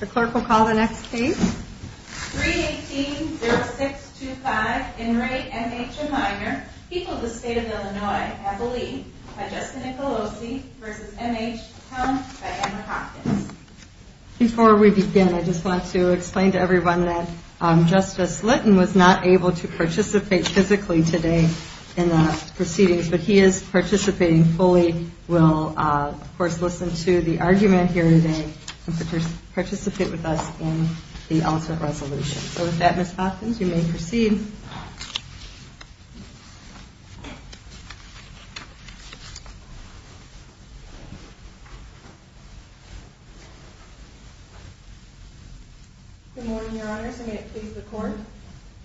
The clerk will call the next case. 318-0625, Enright, M.H. and Minor, People of the State of Illinois, Abilene, by Justin Nicolosi versus M.H. Towne by Emma Hopkins. Before we begin, I just want to explain to everyone that Justice Litton was not able to participate physically today in the proceedings, but he is participating fully. We'll, of course, listen to the argument here today and participate with us in the ultimate resolution. So with that, Ms. Hopkins, you may proceed. Good morning, Your Honors. I'm going to please the court,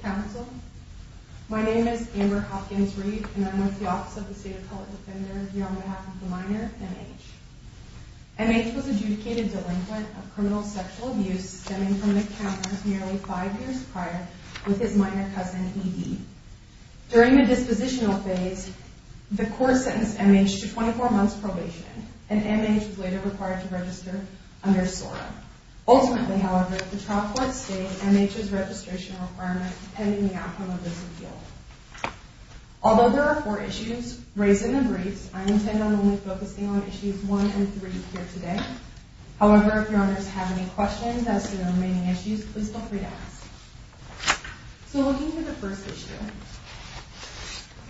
counsel. My name is Amber Hopkins-Reed, and I'm with the Office of the State of Colorado Defender here on behalf of the minor, M.H. M.H. was adjudicated delinquent of criminal sexual abuse stemming from an encounter nearly five years prior with his minor cousin, E.D. During the dispositional phase, the court sentenced M.H. to 24 months probation, and M.H. was later required to register under SORA. Ultimately, however, the trial court stated M.H.'s registration requirement pending the outcome of this appeal. Although there are four issues raised in the briefs, I intend on only focusing on issues one and three here today. However, if Your Honors have any questions as to the remaining issues, please feel free to ask. So looking at the first issue,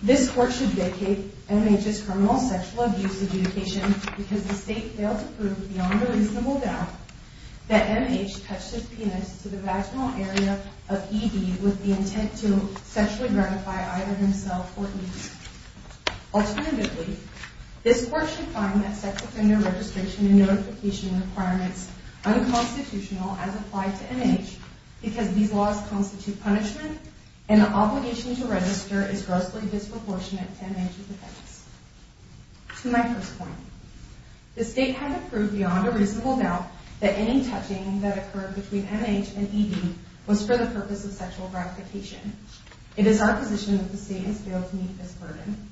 this court should vacate M.H.'s criminal sexual abuse adjudication because the state failed to prove beyond a reasonable doubt that M.H. touched his penis to the vaginal area of E.D. with the intent to sexually gratify either himself or E.D. Alternatively, this court should find that sex offender registration and notification requirements unconstitutional as applied to M.H. because these laws constitute punishment, and the obligation to register is grossly disproportionate to M.H.'s offense. To my first point, the state had to prove beyond a reasonable doubt that any touching that occurred between M.H. and E.D. was for the purpose of sexual gratification. It is our position that the state has failed to meet this burden.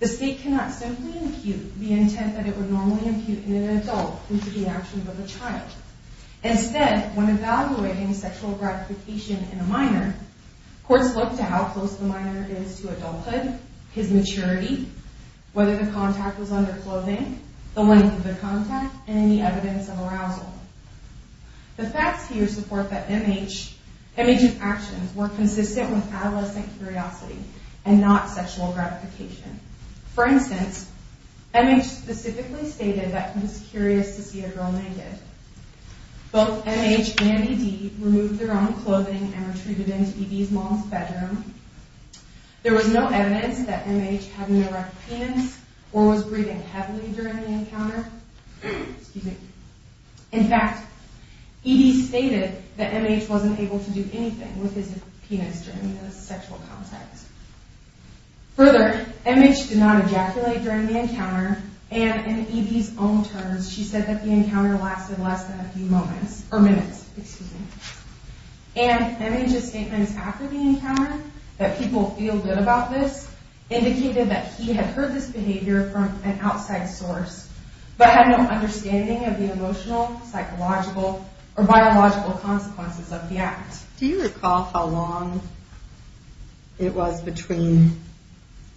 The state cannot simply impute the intent that it would normally impute in an adult into the actions of a child. Instead, when evaluating sexual gratification in a minor, courts look to how close the minor is to adulthood, his maturity, whether the contact was under clothing, the length of the contact, and any evidence of arousal. The facts here support that M.H.'s actions were consistent with adolescent curiosity and not sexual gratification. For instance, M.H. specifically stated that he was curious to see a girl naked. Both M.H. and E.D. removed their own clothing and retreated into E.D.'s mom's bedroom. There was no evidence that M.H. had an erect penis or was breathing heavily during the encounter. In fact, E.D. stated that M.H. wasn't able to do anything with his penis during the sexual contact. Further, M.H. did not ejaculate during the encounter, and in E.D.'s own terms, she said that the encounter lasted less than a few moments, or minutes, excuse me. And M.H.'s statements after the encounter, that people feel good about this, indicated that he had heard this behavior from an outside source, but had no understanding of the emotional, psychological, or biological consequences of the act. Do you recall how long it was between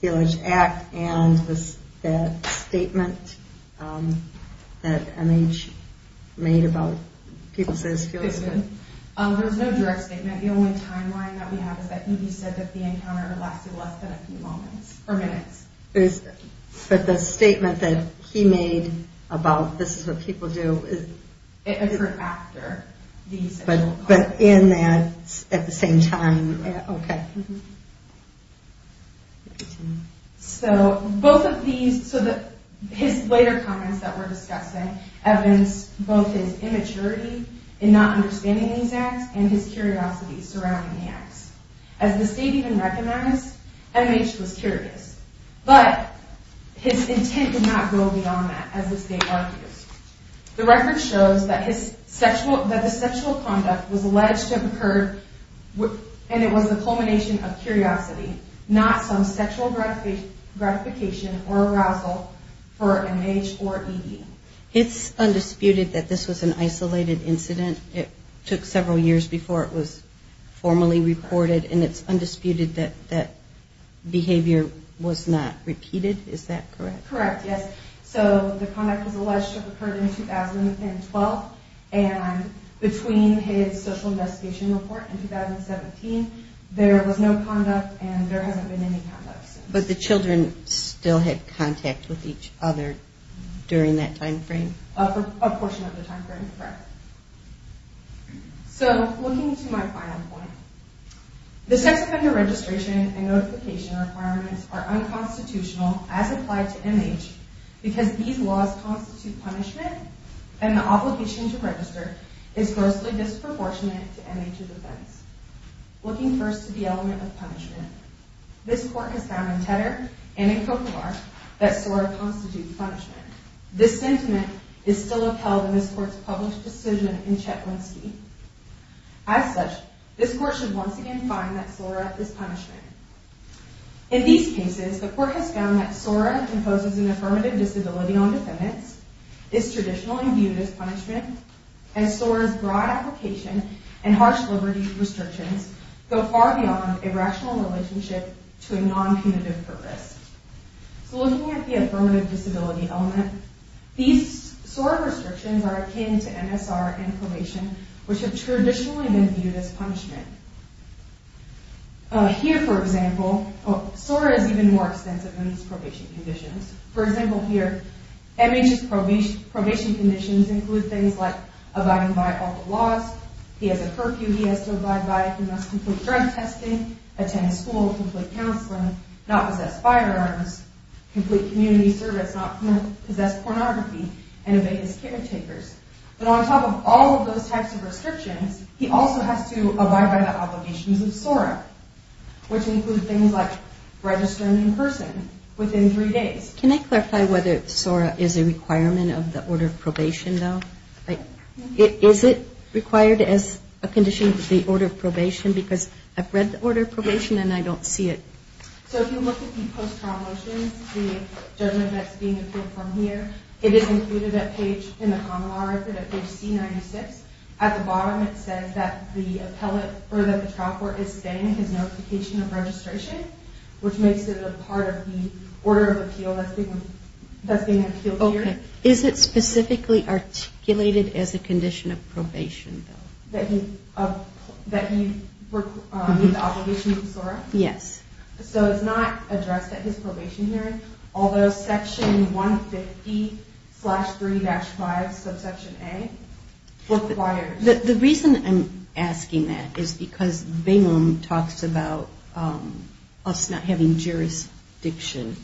the alleged act and the statement that M.H. made about people say this feels good? There's no direct statement. The only timeline that we have is that E.D. said that the encounter lasted less than a few moments, or minutes. But the statement that he made about this is what people do is... It occurred after the sexual contact. But in that, at the same time, okay. So, both of these, his later comments that we're discussing evidence both his immaturity in not understanding these acts, and his curiosity surrounding the acts. As the state even recognized, M.H. was curious. But, his intent did not go beyond that, as the state argues. The record shows that the sexual conduct was alleged to have occurred, and it was a culmination of curiosity. Not some sexual gratification or arousal for M.H. or E.D. It's undisputed that this was an isolated incident. It took several years before it was formally reported, and it's undisputed that that behavior was not repeated, is that correct? Correct, yes. So, the conduct was alleged to have occurred in 2012, and between his social investigation report in 2017, there was no conduct, and there hasn't been any conduct since. But the children still had contact with each other during that time frame? A portion of the time frame, correct. So, looking to my final point. The sex offender registration and notification requirements are unconstitutional, as applied to M.H., because these laws constitute punishment, and the obligation to register is grossly disproportionate to M.H.'s offense. Looking first to the element of punishment, this court has found in Tedder and in Coquillar that SORA constitutes punishment. This sentiment is still upheld in this court's published decision in Chetwinsky. As such, this court should once again find that SORA is punishment. In these cases, the court has found that SORA imposes an affirmative disability on defendants, is traditionally viewed as punishment, and SORA's broad application and harsh liberty restrictions go far beyond a rational relationship to a non-punitive purpose. So, looking at the affirmative disability element, these SORA restrictions are akin to MSR and probation, which have traditionally been viewed as punishment. Here, for example, SORA is even more extensive than these probation conditions. For example, here, M.H.'s probation conditions include things like abiding by all the laws, he has a curfew he has to abide by, he must complete drug testing, attend school, complete counseling, not possess firearms, complete community service, not possess pornography, and obey his caretakers. But on top of all of those types of restrictions, he also has to abide by the obligations of SORA, which include things like registering in person within three days. Can I clarify whether SORA is a requirement of the order of probation, though? Is it required as a condition of the order of probation? Because I've read the order of probation and I don't see it. So, if you look at the post-trial motions, the judgment that's being appealed from here, it is included in the common law record at page C-96. At the bottom, it says that the appellate or that the trial court is staying in his notification of registration, which makes it a part of the order of appeal that's being appealed here. Okay. Is it specifically articulated as a condition of probation, though? That he meets the obligations of SORA? Yes. So it's not addressed at his probation hearing, although section 150-3-5, subsection A, requires. The reason I'm asking that is because Bingham talks about us not having jurisdiction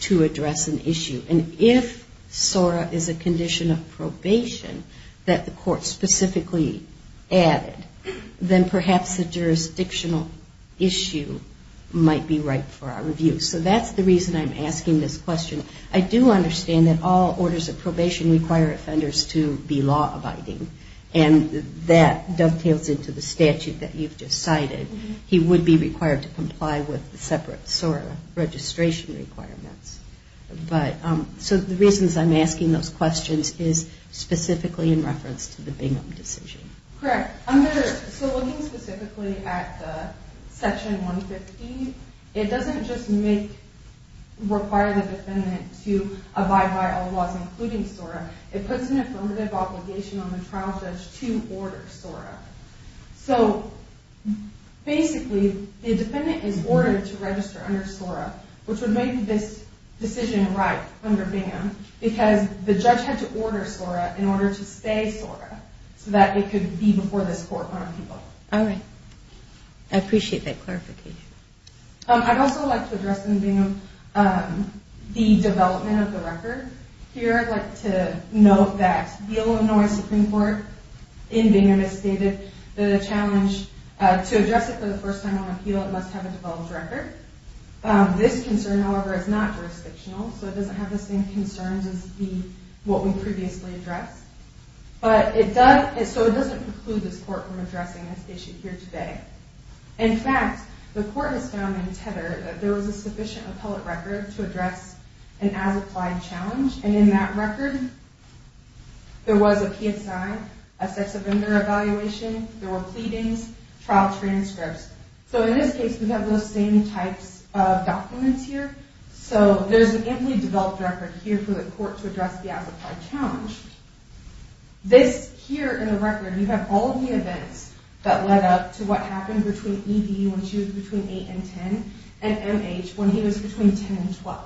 to address an issue. And if SORA is a condition of probation that the court specifically added, then perhaps the jurisdictional issue might be right for our review. So that's the reason I'm asking this question. I do understand that all orders of probation require offenders to be law-abiding, and that dovetails into the statute that you've just cited. He would be required to comply with the separate SORA registration requirements. So the reasons I'm asking those questions is specifically in reference to the Bingham decision. Correct. So looking specifically at the section 150, it doesn't just require the defendant to abide by all laws, including SORA. It puts an affirmative obligation on the trial judge to order SORA. So basically, the defendant is ordered to register under SORA, which would make this decision right under Bingham, because the judge had to order SORA in order to stay SORA, so that it could be before this court on appeal. All right. I appreciate that clarification. I'd also like to address in Bingham the development of the record. Here, I'd like to note that the Illinois Supreme Court, in Bingham, has stated the challenge to address it for the first time on appeal, it must have a developed record. This concern, however, is not jurisdictional, so it doesn't have the same concerns as what we previously addressed. So it doesn't preclude this court from addressing this issue here today. In fact, the court has found in Tether that there was a sufficient appellate record to address an as-applied challenge, and in that record, there was a PSI, a sex offender evaluation, there were pleadings, trial transcripts. So in this case, we have those same types of documents here. So there's an amply developed record here for the court to address the as-applied challenge. This here in the record, you have all the events that led up to what happened between ED when she was between 8 and 10, and MH when he was between 10 and 12.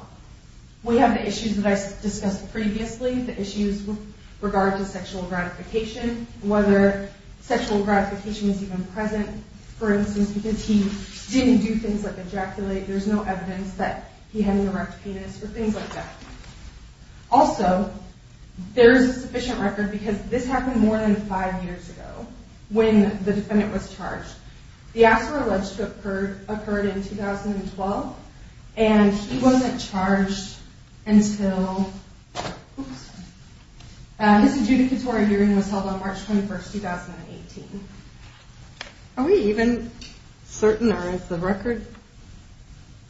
We have the issues that I discussed previously, the issues with regard to sexual gratification, whether sexual gratification was even present, for instance, because he didn't do things like ejaculate, there's no evidence that he had an erect penis, or things like that. Also, there is a sufficient record because this happened more than five years ago when the defendant was charged. The assault alleged occurred in 2012, and he wasn't charged until his adjudicatory hearing was held on March 21, 2018. Are we even certain, or is the record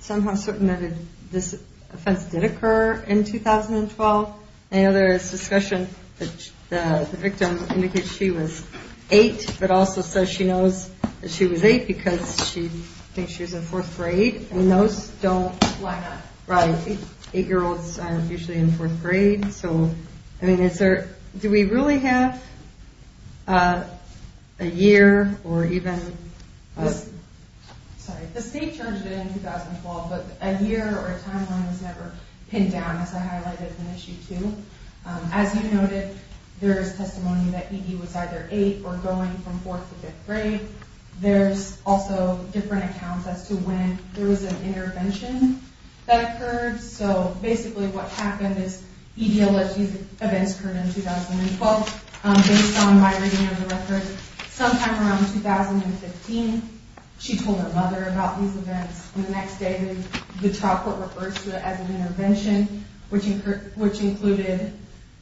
somehow certain that this offense did occur in 2012? I know there is discussion that the victim indicates she was 8, but also says she knows that she was 8 because she thinks she was in 4th grade, and those don't line up. 8-year-olds are usually in 4th grade. Do we really have a year, or even... As you noted, there is testimony that E.D. was either 8 or going from 4th to 5th grade. There's also different accounts as to when there was an intervention that occurred. Basically, what happened is E.D. alleged these events occurred in 2012, based on my reading of the record. Sometime around 2015, she told her mother about these events. The next day, the trial court referred to it as an intervention, which included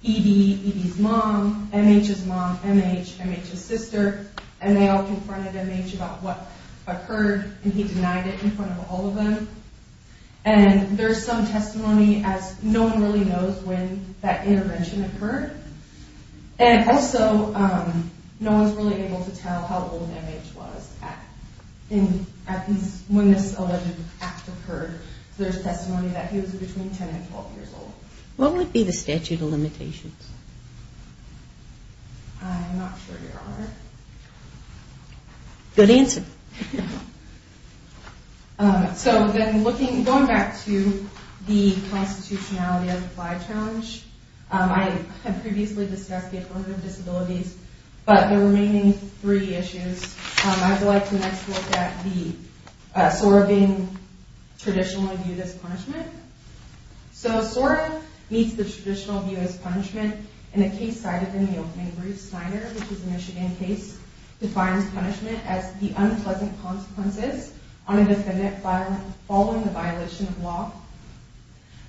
E.D., E.D.'s mom, M.H.'s mom, M.H., M.H.'s sister, and they all confronted M.H. about what occurred, and he denied it in front of all of them. There's some testimony as no one really knows when that intervention occurred. Also, no one's really able to tell how old M.H. was when this alleged act occurred. There's testimony that he was between 10 and 12 years old. What would be the statute of limitations? I'm not sure you're on it. Good answer. Going back to the constitutionality of the fly challenge, I have previously discussed the affirmative disabilities, but the remaining three issues, I would like to next look at the SOAR being traditionally viewed as punishment. SOAR meets the traditional view as punishment in a case cited in the opening brief. Snyder, which is a Michigan case, defines punishment as the unpleasant consequences on a defendant following the violation of law.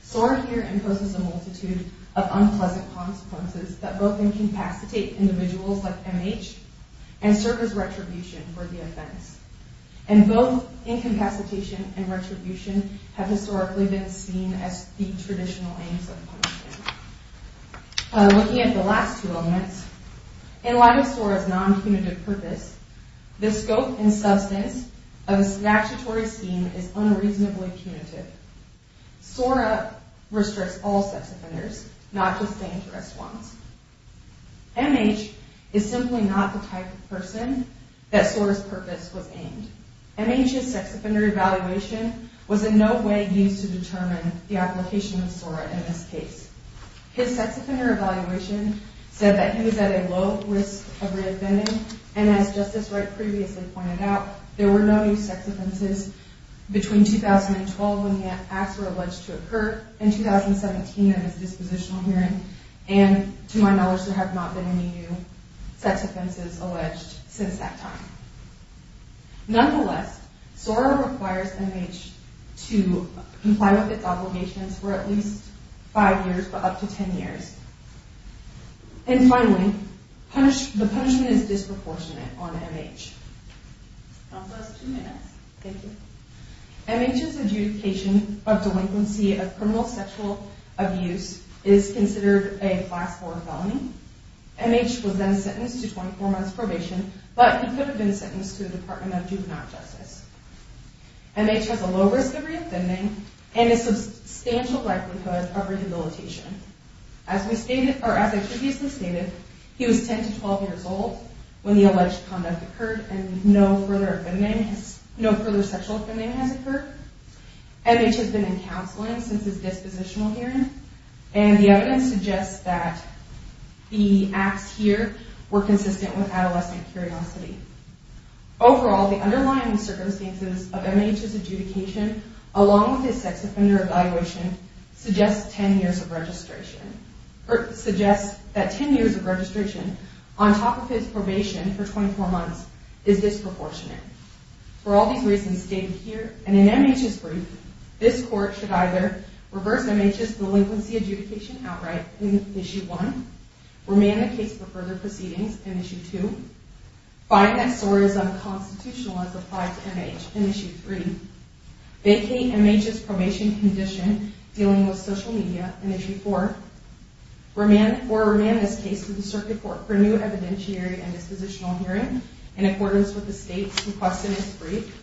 SOAR here imposes a multitude of unpleasant consequences that both incapacitate individuals like M.H. and serve as retribution for the offense, and both incapacitation and retribution have historically been seen as the traditional aims of punishment. Looking at the last two elements, in light of SOAR's non-punitive purpose, the scope and substance of the statutory scheme is unreasonably punitive. SOAR restricts all sex offenders, not just dangerous ones. M.H. is simply not the type of person that SOAR's purpose was aimed. M.H.'s sex offender evaluation was in no way used to determine the application of SOAR in this case. His sex offender evaluation said that he was at a low risk of reoffending, and as Justice Wright previously pointed out, there were no new sex offenses between 2012 when the acts were alleged to occur, and 2017 at his dispositional hearing, and to my knowledge, there have not been any new sex offenses alleged since that time. Nonetheless, SOAR requires M.H. to comply with its obligations for at least five years, but up to ten years. And finally, the punishment is disproportionate on M.H. M.H.'s adjudication of delinquency of criminal sexual abuse is considered a Class IV felony. M.H. was then sentenced to 24 months probation, but he could have been sentenced to the Department of Juvenile Justice. M.H. has a low risk of reoffending and a substantial likelihood of rehabilitation. As previously stated, he was 10 to 12 years old when the alleged conduct occurred, and no further sexual offending has occurred. M.H. has been in counseling since his dispositional hearing, and the evidence suggests that the acts here were consistent with adolescent curiosity. Overall, the underlying circumstances of M.H.'s adjudication, along with his sex offender evaluation, suggests that 10 years of registration on top of his probation for 24 months is disproportionate. For all these reasons stated here, and in M.H.'s brief, this Court should either reverse M.H.'s delinquency adjudication outright in Issue 1, remand the case for further proceedings in Issue 2, find that SOAR is unconstitutional as applied to M.H. in Issue 3, vacate M.H.'s probation condition dealing with social media in Issue 4, or remand this case to the Circuit Court for new evidentiary and dispositional hearing in accordance with the State's request in its brief,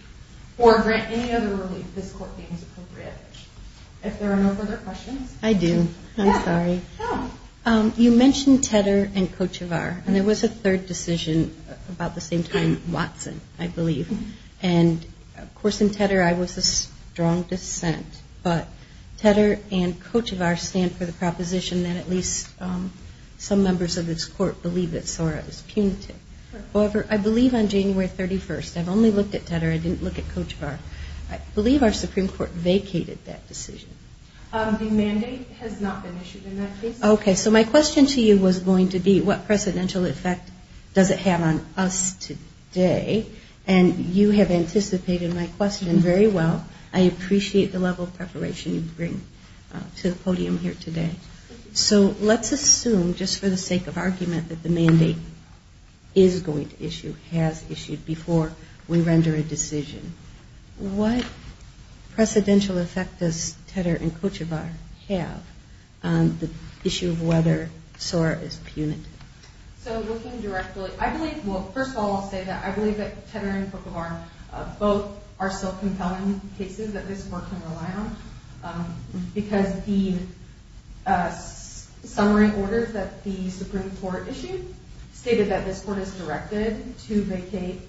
or grant any other relief this Court deems appropriate. If there are no further questions. I do. I'm sorry. You mentioned Tedder and Kochivar, and there was a third decision about the same time, Watson, I believe. And, of course, in Tedder I was of strong dissent. But Tedder and Kochivar stand for the proposition that at least some members of this Court believe that SOAR is punitive. However, I believe on January 31st, I've only looked at Tedder. I didn't look at Kochivar. I believe our Supreme Court vacated that decision. The mandate has not been issued in that case. Okay. So my question to you was going to be, what precedential effect does it have on us today? And you have anticipated my question very well. I appreciate the level of preparation you bring to the podium here today. So let's assume, just for the sake of argument, that the mandate is going to issue, has issued, before we render a decision. What precedential effect does Tedder and Kochivar have on the issue of whether SOAR is punitive? So looking directly, I believe, well, first of all, I'll say that I believe that Tedder and Kochivar both are self-compelling cases that this Court can rely on. Because the summary order that the Supreme Court issued stated that this Court is directed to vacate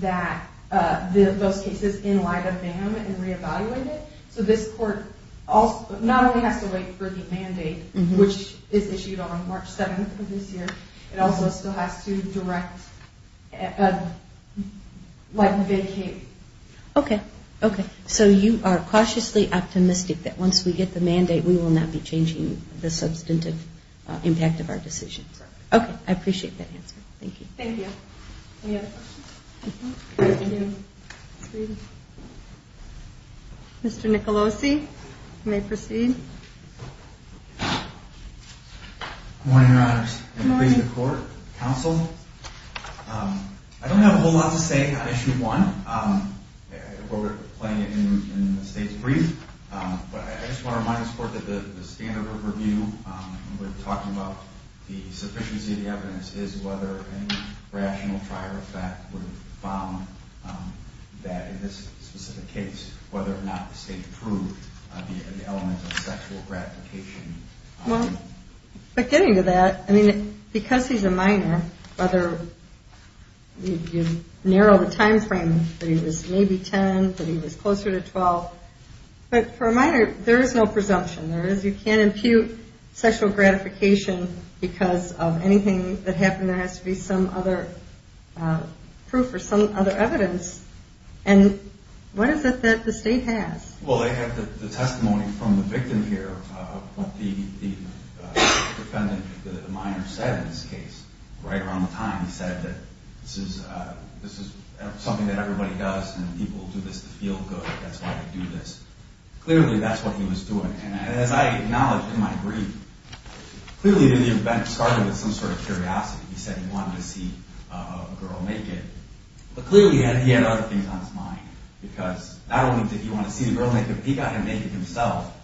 those cases in light of them and reevaluate it. So this Court not only has to wait for the mandate, which is issued on March 7th of this year, it also still has to direct, like, vacate. Okay. Okay. So you are cautiously optimistic that once we get the mandate, we will not be changing the substantive impact of our decision. Correct. Okay. I appreciate that answer. Thank you. Thank you. Any other questions? Thank you. Mr. Nicolosi, you may proceed. Good morning, Your Honors. Good morning. In the face of the Court, Counsel, I don't have a whole lot to say on Issue 1. We're playing it in the State's brief. But I just want to remind the Court that the standard of review, when we're talking about the sufficiency of the evidence, is whether any rational prior effect would have found that in this specific case, whether or not the State proved the element of sexual gratification. Well, getting to that, because he's a minor, whether you narrow the time frame that he was maybe 10, that he was closer to 12, but for a minor, there is no presumption. You can't impute sexual gratification because of anything that happened. There has to be some other proof or some other evidence. And what is it that the State has? Well, I have the testimony from the victim here, what the defendant, the minor, said in this case. Right around the time, he said that this is something that everybody does and people do this to feel good. That's why they do this. Clearly, that's what he was doing. And as I acknowledged in my brief, clearly, the event started with some sort of curiosity. He said he wanted to see a girl naked. But clearly, he had other things on his mind, because not only did he want to see the girl naked, but he got her naked himself.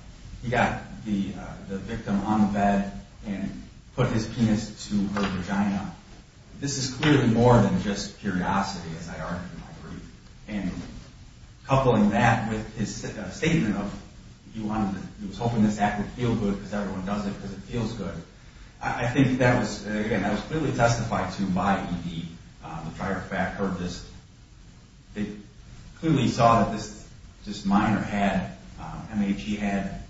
He got the victim on the bed and put his penis to her vagina. This is clearly more than just curiosity, as I argued in my brief. And coupling that with his statement of he was hoping this act would feel good because everyone does it because it feels good, I think that was clearly testified to by E.D. The prior fact heard this. Clearly, he saw that this minor had, M.A.G., had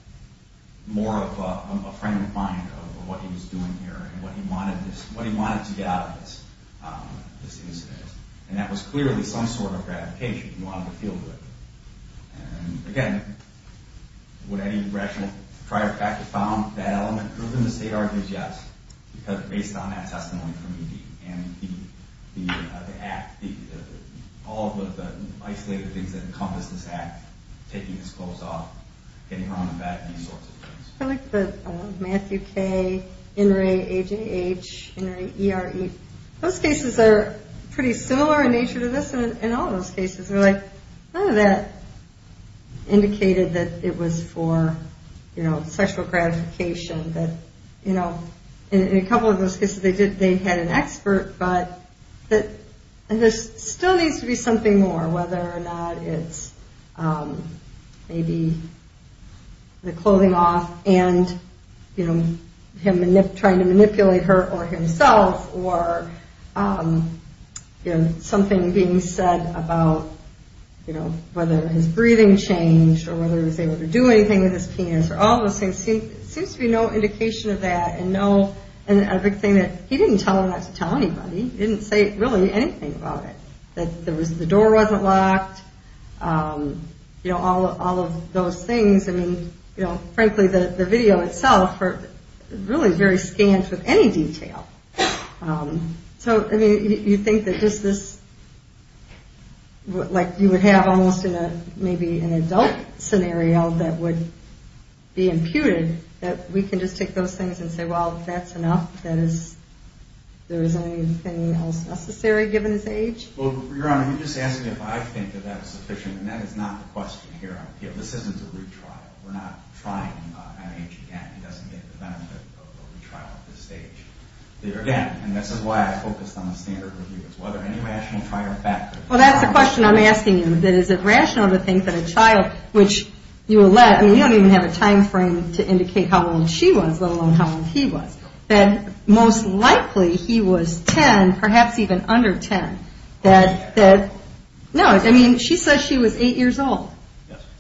more of a frame of mind of what he was doing here and what he wanted to get out of this incident. And that was clearly some sort of gratification. He wanted to feel good. And again, would any rational prior factor found that element? The state argues yes, because based on that testimony from E.D. and the act, all of the isolated things that encompass this act, taking his clothes off, getting her on the bed, these sorts of things. I like the Matthew K., In re, A.J.H., In re, E.R., E. Those cases are pretty similar in nature to this and all those cases. None of that indicated that it was for sexual gratification. In a couple of those cases, they had an expert, but there still needs to be something more, whether or not it's maybe the clothing off and him trying to manipulate her or himself or something being said about whether his breathing changed or whether he was able to do anything with his penis or all those things. There seems to be no indication of that. And a big thing, he didn't tell her not to tell anybody. He didn't say really anything about it, that the door wasn't locked, all of those things. I mean, frankly, the video itself is really very scant with any detail. So, I mean, you think that just this, like you would have almost in maybe an adult scenario that would be imputed, that we can just take those things and say, well, if that's enough, there isn't anything else necessary given his age? Well, Your Honor, you're just asking if I think that that's sufficient, and that is not the question here on appeal. This isn't a retrial. We're not trying an age again. He doesn't get the benefit of a retrial at this stage. There again, and this is why I focused on the standard review, is whether any rational trial factor. Well, that's the question I'm asking you, that is it rational to think that a child, which you don't even have a time frame to indicate how old she was, let alone how old he was, that most likely he was 10, perhaps even under 10. No, I mean, she says she was 8 years old,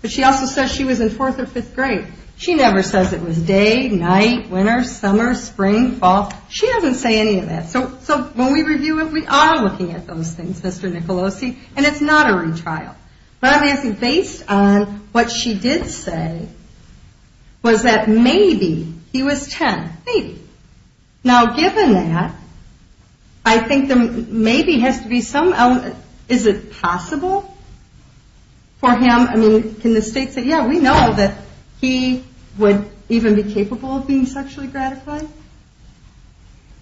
but she also says she was in 4th or 5th grade. She never says it was day, night, winter, summer, spring, fall. She doesn't say any of that. So when we review it, we are looking at those things, Mr. Nicolosi, and it's not a retrial. But I'm asking, based on what she did say, was that maybe he was 10, maybe. Now, given that, I think there maybe has to be some element, is it possible for him, I mean, can the state say, yeah, we know that he would even be capable of being sexually gratified?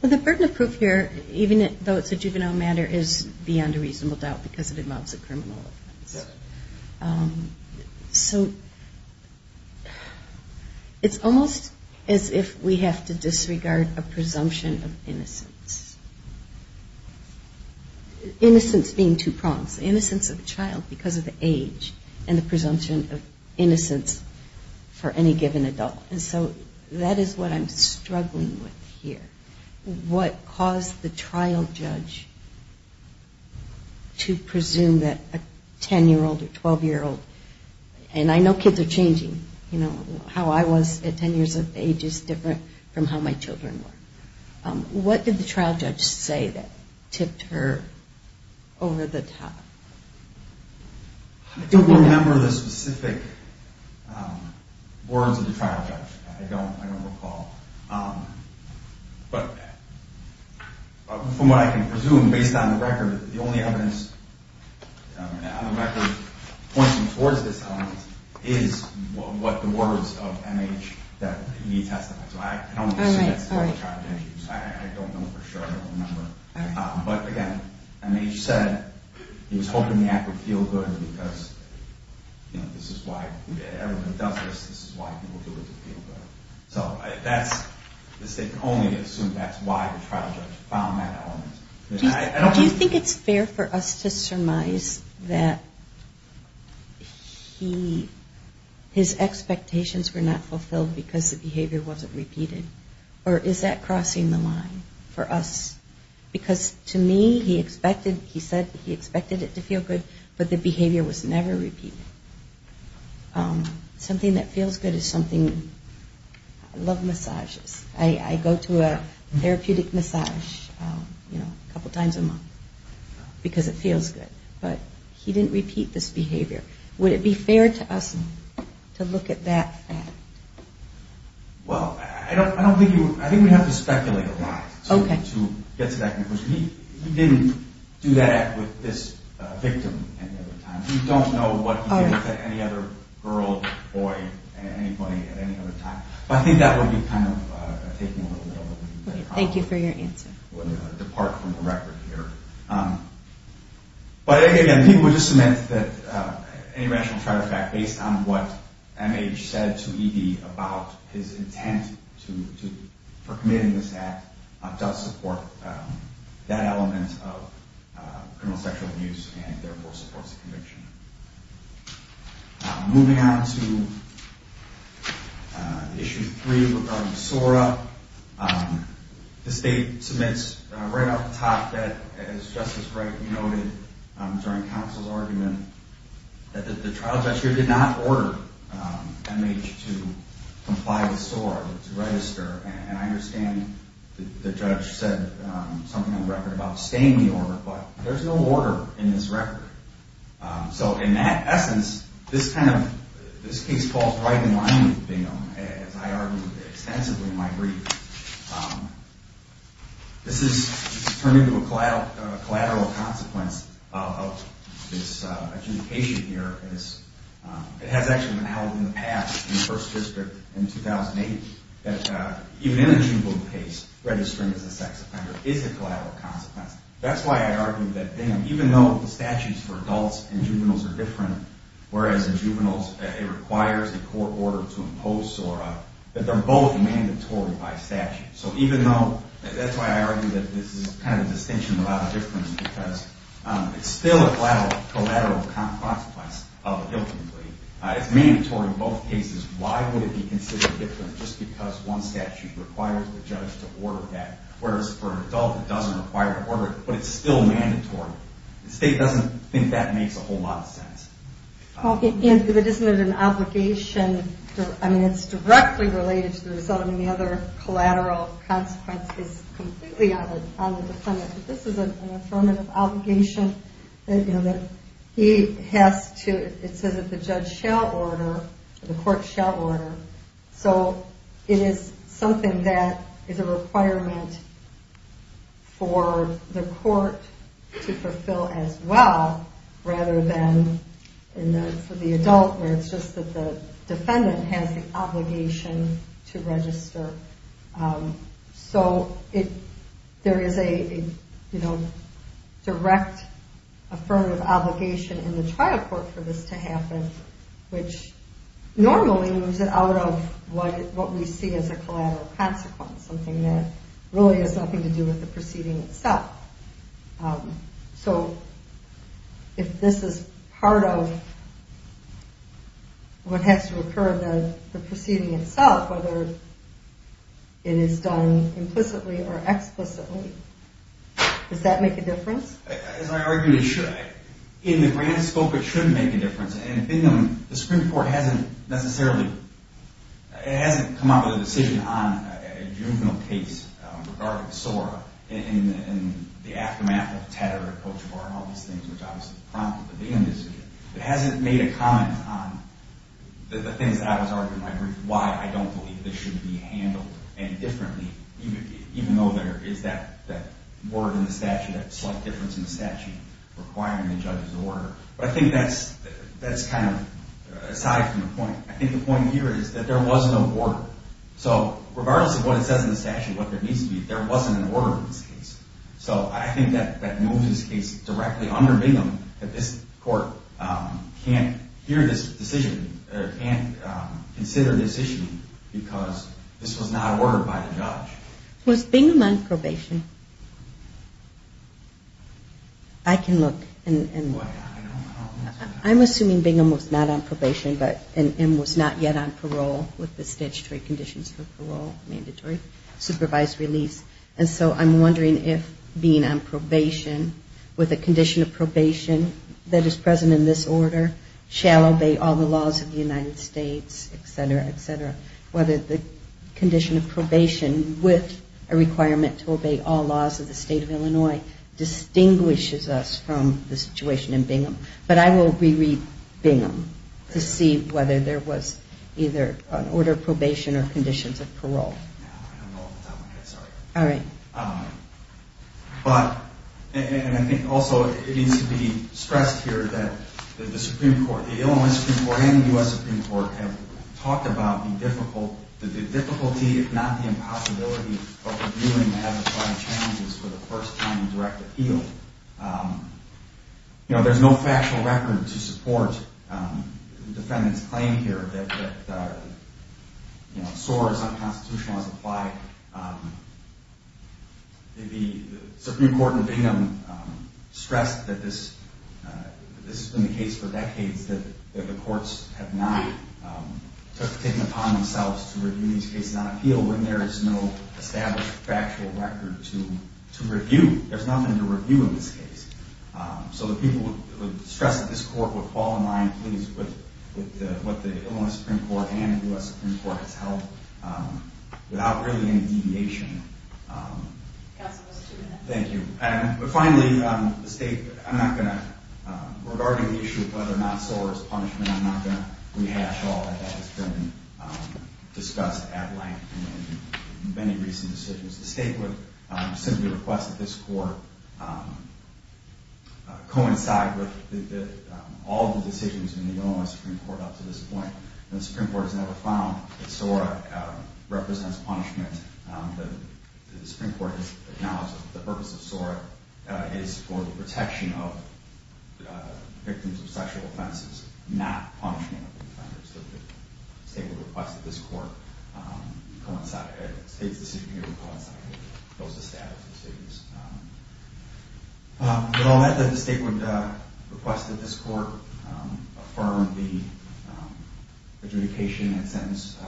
Well, the burden of proof here, even though it's a juvenile matter, is beyond a reasonable doubt because it involves a criminal offense. So it's almost as if we have to disregard a presumption of innocence. Innocence being two prongs. Innocence of a child because of the age and the presumption of innocence for any given adult. And so that is what I'm struggling with here. What caused the trial judge to presume that a 10-year-old or 12-year-old, and I know kids are changing, you know, how I was at 10 years of age is different from how my children were. What did the trial judge say that tipped her over the top? I don't remember the specific words of the trial judge. I don't recall. But from what I can presume, based on the record, the only evidence pointing towards this element is what the words of M.H. that he testified. So I don't assume that's what the trial judge used. I don't know for sure. I don't remember. But again, M.H. said he was hoping the act would feel good because this is why everyone does this. This is why people do it to feel good. So the state can only assume that's why the trial judge found that element. Do you think it's fair for us to surmise that his expectations were not fulfilled because the behavior wasn't repeated? Or is that crossing the line for us? Because to me, he said he expected it to feel good, but the behavior was never repeated. Something that feels good is something... I love massages. I go to a therapeutic massage a couple times a month because it feels good. But he didn't repeat this behavior. Would it be fair to us to look at that fact? Well, I don't think you... I think we'd have to speculate a lot to get to that conclusion. He didn't do that with this victim. We don't know what he did with any other girl, boy, anybody at any other time. But I think that would be kind of taking a little bit of a leap. Thank you for your answer. Depart from the record here. But again, people just submit that any rational trial fact based on what M.H. said to E.D. about his intent for committing this act does support that element of criminal sexual abuse and therefore supports the conviction. Moving on to Issue 3 regarding SORA. The State submits right off the top that, as Justice Wright noted during counsel's argument, that the trial judge here did not order M.H. to comply with SORA, to register. And I understand the judge said something on record about staying the order, but there's no order in this record. So in that essence, this case falls right in line with Bingham, as I argued extensively in my brief. This has turned into a collateral consequence of this adjudication here. It has actually been held in the past in the First District in 2008 that even in a juvenile case, registering as a sex offender is a collateral consequence. That's why I argue that Bingham, even though the statutes for adults and juveniles are different, whereas in juveniles it requires a court order to impose SORA, that they're both mandatory by statute. So even though, that's why I argue that this is kind of a distinction without a difference because it's still a collateral consequence of a guilty plea. It's mandatory in both cases. Why would it be considered different just because one statute requires the judge to order that, whereas for an adult it doesn't require an order, but it's still mandatory? The State doesn't think that makes a whole lot of sense. Okay, and if it isn't an obligation, I mean, it's directly related to the result, and the other collateral consequence is completely on the defendant. This is an affirmative obligation that he has to, it says that the judge shall order, the court shall order. So it is something that is a requirement for the court to fulfill as well rather than for the adult where it's just that the defendant has the obligation to register. So there is a direct affirmative obligation in the trial court for this to happen, which normally moves it out of what we see as a collateral consequence, something that really has nothing to do with the proceeding itself. So if this is part of what has to occur in the proceeding itself, whether it is done implicitly or explicitly, does that make a difference? As I argued, it should. In the grand scope it should make a difference, and the Supreme Court hasn't necessarily come up with a decision on a juvenile case regarding Sora and the aftermath of Tedder and Cochabar and all these things, which obviously prompted the defendant's decision. It hasn't made a comment on the things that I was arguing, why I don't believe this should be handled any differently, even though there is that word in the statute, that slight difference in the statute requiring the judge's order. But I think that's kind of aside from the point. I think the point here is that there was no order. So regardless of what it says in the statute, what there needs to be, there wasn't an order in this case. So I think that moves this case directly under Bingham, that this court can't hear this decision or can't consider this issue because this was not ordered by the judge. Was Bingham on probation? I can look. I'm assuming Bingham was not on probation and was not yet on parole with the statutory conditions for parole, mandatory supervised release. And so I'm wondering if being on probation with a condition of probation that is present in this order shall obey all the laws of the United States, et cetera, et cetera, whether the condition of probation with a requirement to obey all laws of the state of Illinois distinguishes us from the situation in Bingham. But I will reread Bingham to see whether there was either an order of probation or conditions of parole. I don't know off the top of my head, sorry. All right. But I think also it needs to be stressed here that the Supreme Court, the Illinois Supreme Court and the U.S. Supreme Court have talked about the difficulty, if not the impossibility, of reviewing the habit-planning challenges for the first time in direct appeal. There's no factual record to support the defendant's claim here that SOAR is unconstitutional as implied. The Supreme Court in Bingham stressed that this has been the case for decades, that the courts have not taken it upon themselves to review these cases on appeal when there is no established factual record to review. There's nothing to review in this case. So the people would stress that this court would fall in line, please, with what the Illinois Supreme Court and the U.S. Supreme Court has held without really any deviation. Counsel, let's do that. Thank you. But finally, regarding the issue of whether or not SOAR is punishment, I'm not going to rehash all that. That has been discussed at length in many recent decisions. The State would simply request that this court coincide with all the decisions in the Illinois Supreme Court up to this point. The Supreme Court has never found that SOAR represents punishment. The Supreme Court has acknowledged that the purpose of SOAR is for the protection of victims of sexual offenses, not punishment of the offenders. So the State would request that this court coincide, that the State's decision here would coincide with those established decisions. With all that, the State would request that this court affirm the adjudication and sentence of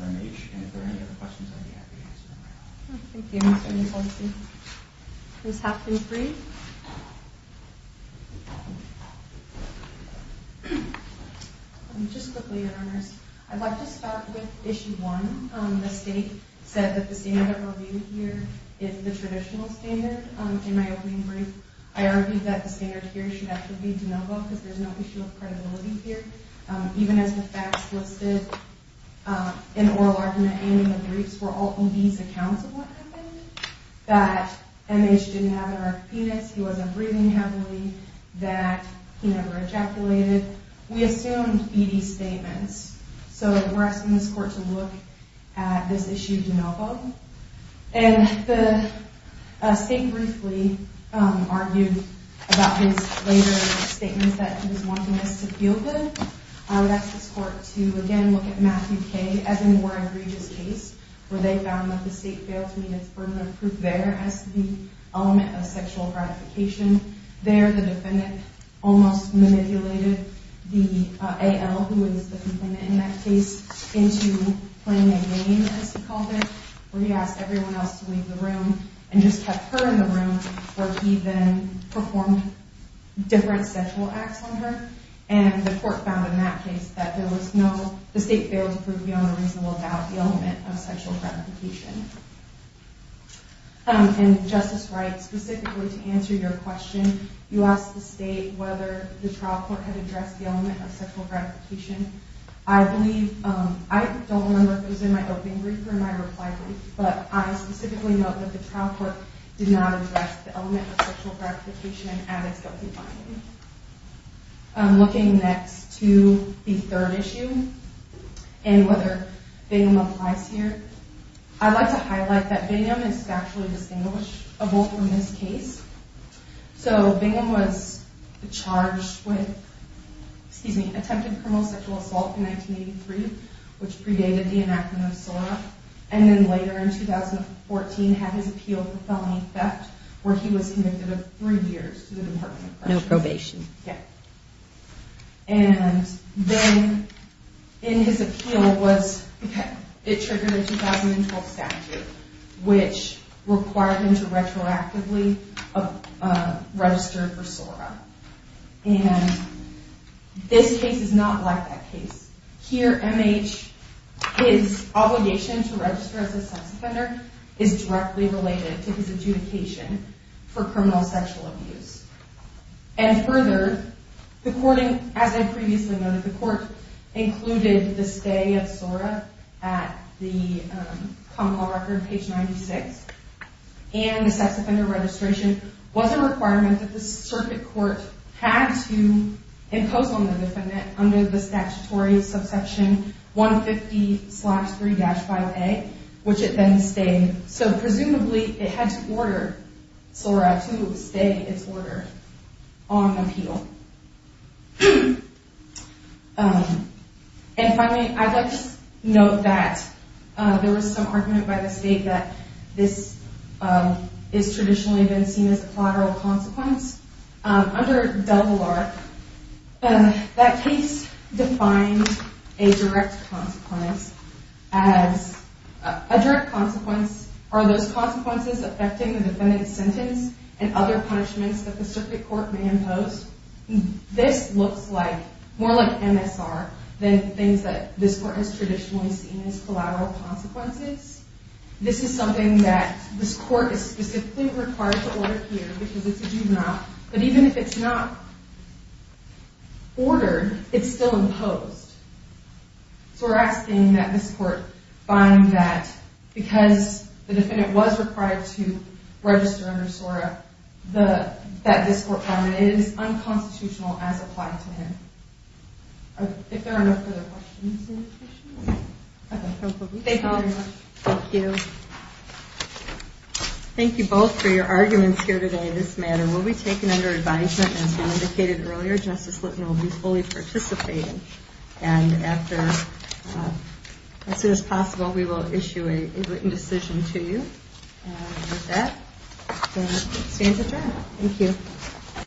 R.N.H., and if there are any other questions, I'd be happy to answer them right now. Thank you, Mr. Nicoletti. Ms. Hopkins-Reed? Just quickly, Your Honors. I'd like to start with Issue 1. The State said that the standard reviewed here is the traditional standard. In my opening brief, I argued that the standard here should actually be de novo because there's no issue of credibility here. Even as the facts listed in oral argument and in the briefs were all in these accounts of what happened, that N.H. didn't have an erect penis, he wasn't breathing heavily, that he never ejaculated. We assumed ED statements, so we're asking this court to look at this issue de novo. And the State briefly argued about his later statements that he was wanting us to feel good. I would ask this court to, again, look at Matthew K. as a more egregious case, where they found that the State failed to meet its burden of proof there as the element of sexual gratification. There, the defendant almost manipulated the AL, who is the defendant in that case, into playing a game, as he called it, where he asked everyone else to leave the room and just kept her in the room, where he then performed different sexual acts on her. And the court found in that case that there was no— the State failed to prove beyond a reasonable doubt the element of sexual gratification. And Justice Wright, specifically to answer your question, you asked the State whether the trial court had addressed the element of sexual gratification. I believe—I don't remember if it was in my opening brief or my reply brief, but I specifically note that the trial court did not address the element of sexual gratification at its opening finding. Looking next to the third issue, and whether Bingham applies here, I'd like to highlight that Bingham is statually distinguishable from this case. So Bingham was charged with—excuse me, attempted criminal sexual assault in 1983, which predated the enactment of SORA, and then later in 2014 had his appeal for felony theft, where he was convicted of three years to the Department of Corrections. No probation. Yeah. And then in his appeal was—it triggered a 2012 statute, which required him to retroactively register for SORA. And this case is not like that case. Here, MH, his obligation to register as a sex offender is directly related to his adjudication for criminal sexual abuse. And further, the court—as I previously noted, the court included the stay of SORA at the common law record, page 96, and the sex offender registration was a requirement that the circuit court had to impose on the defendant under the statutory subsection 150-3-file A, which it then stayed. So presumably, it had to order SORA to stay its order on appeal. And finally, I'd like to note that there was some argument by the state that this has traditionally been seen as a collateral consequence. Under DELVALARC, that case defined a direct consequence as— a direct consequence are those consequences affecting the defendant's sentence and other punishments that the circuit court may impose. This looks like—more like MSR than things that this court has traditionally seen as collateral consequences. This is something that this court is specifically required to order here because it's a juvenile. But even if it's not ordered, it's still imposed. So we're asking that this court find that, because the defendant was required to register under SORA, that this court find that it is unconstitutional as applied to him. If there are no further questions, any questions? Thank you very much. Thank you. Thank you both for your arguments here today in this matter. We'll be taking under advisement, as we indicated earlier, Justice Litton will be fully participating. And after—as soon as possible, we will issue a written decision to you. And with that, it stands adjourned. Thank you.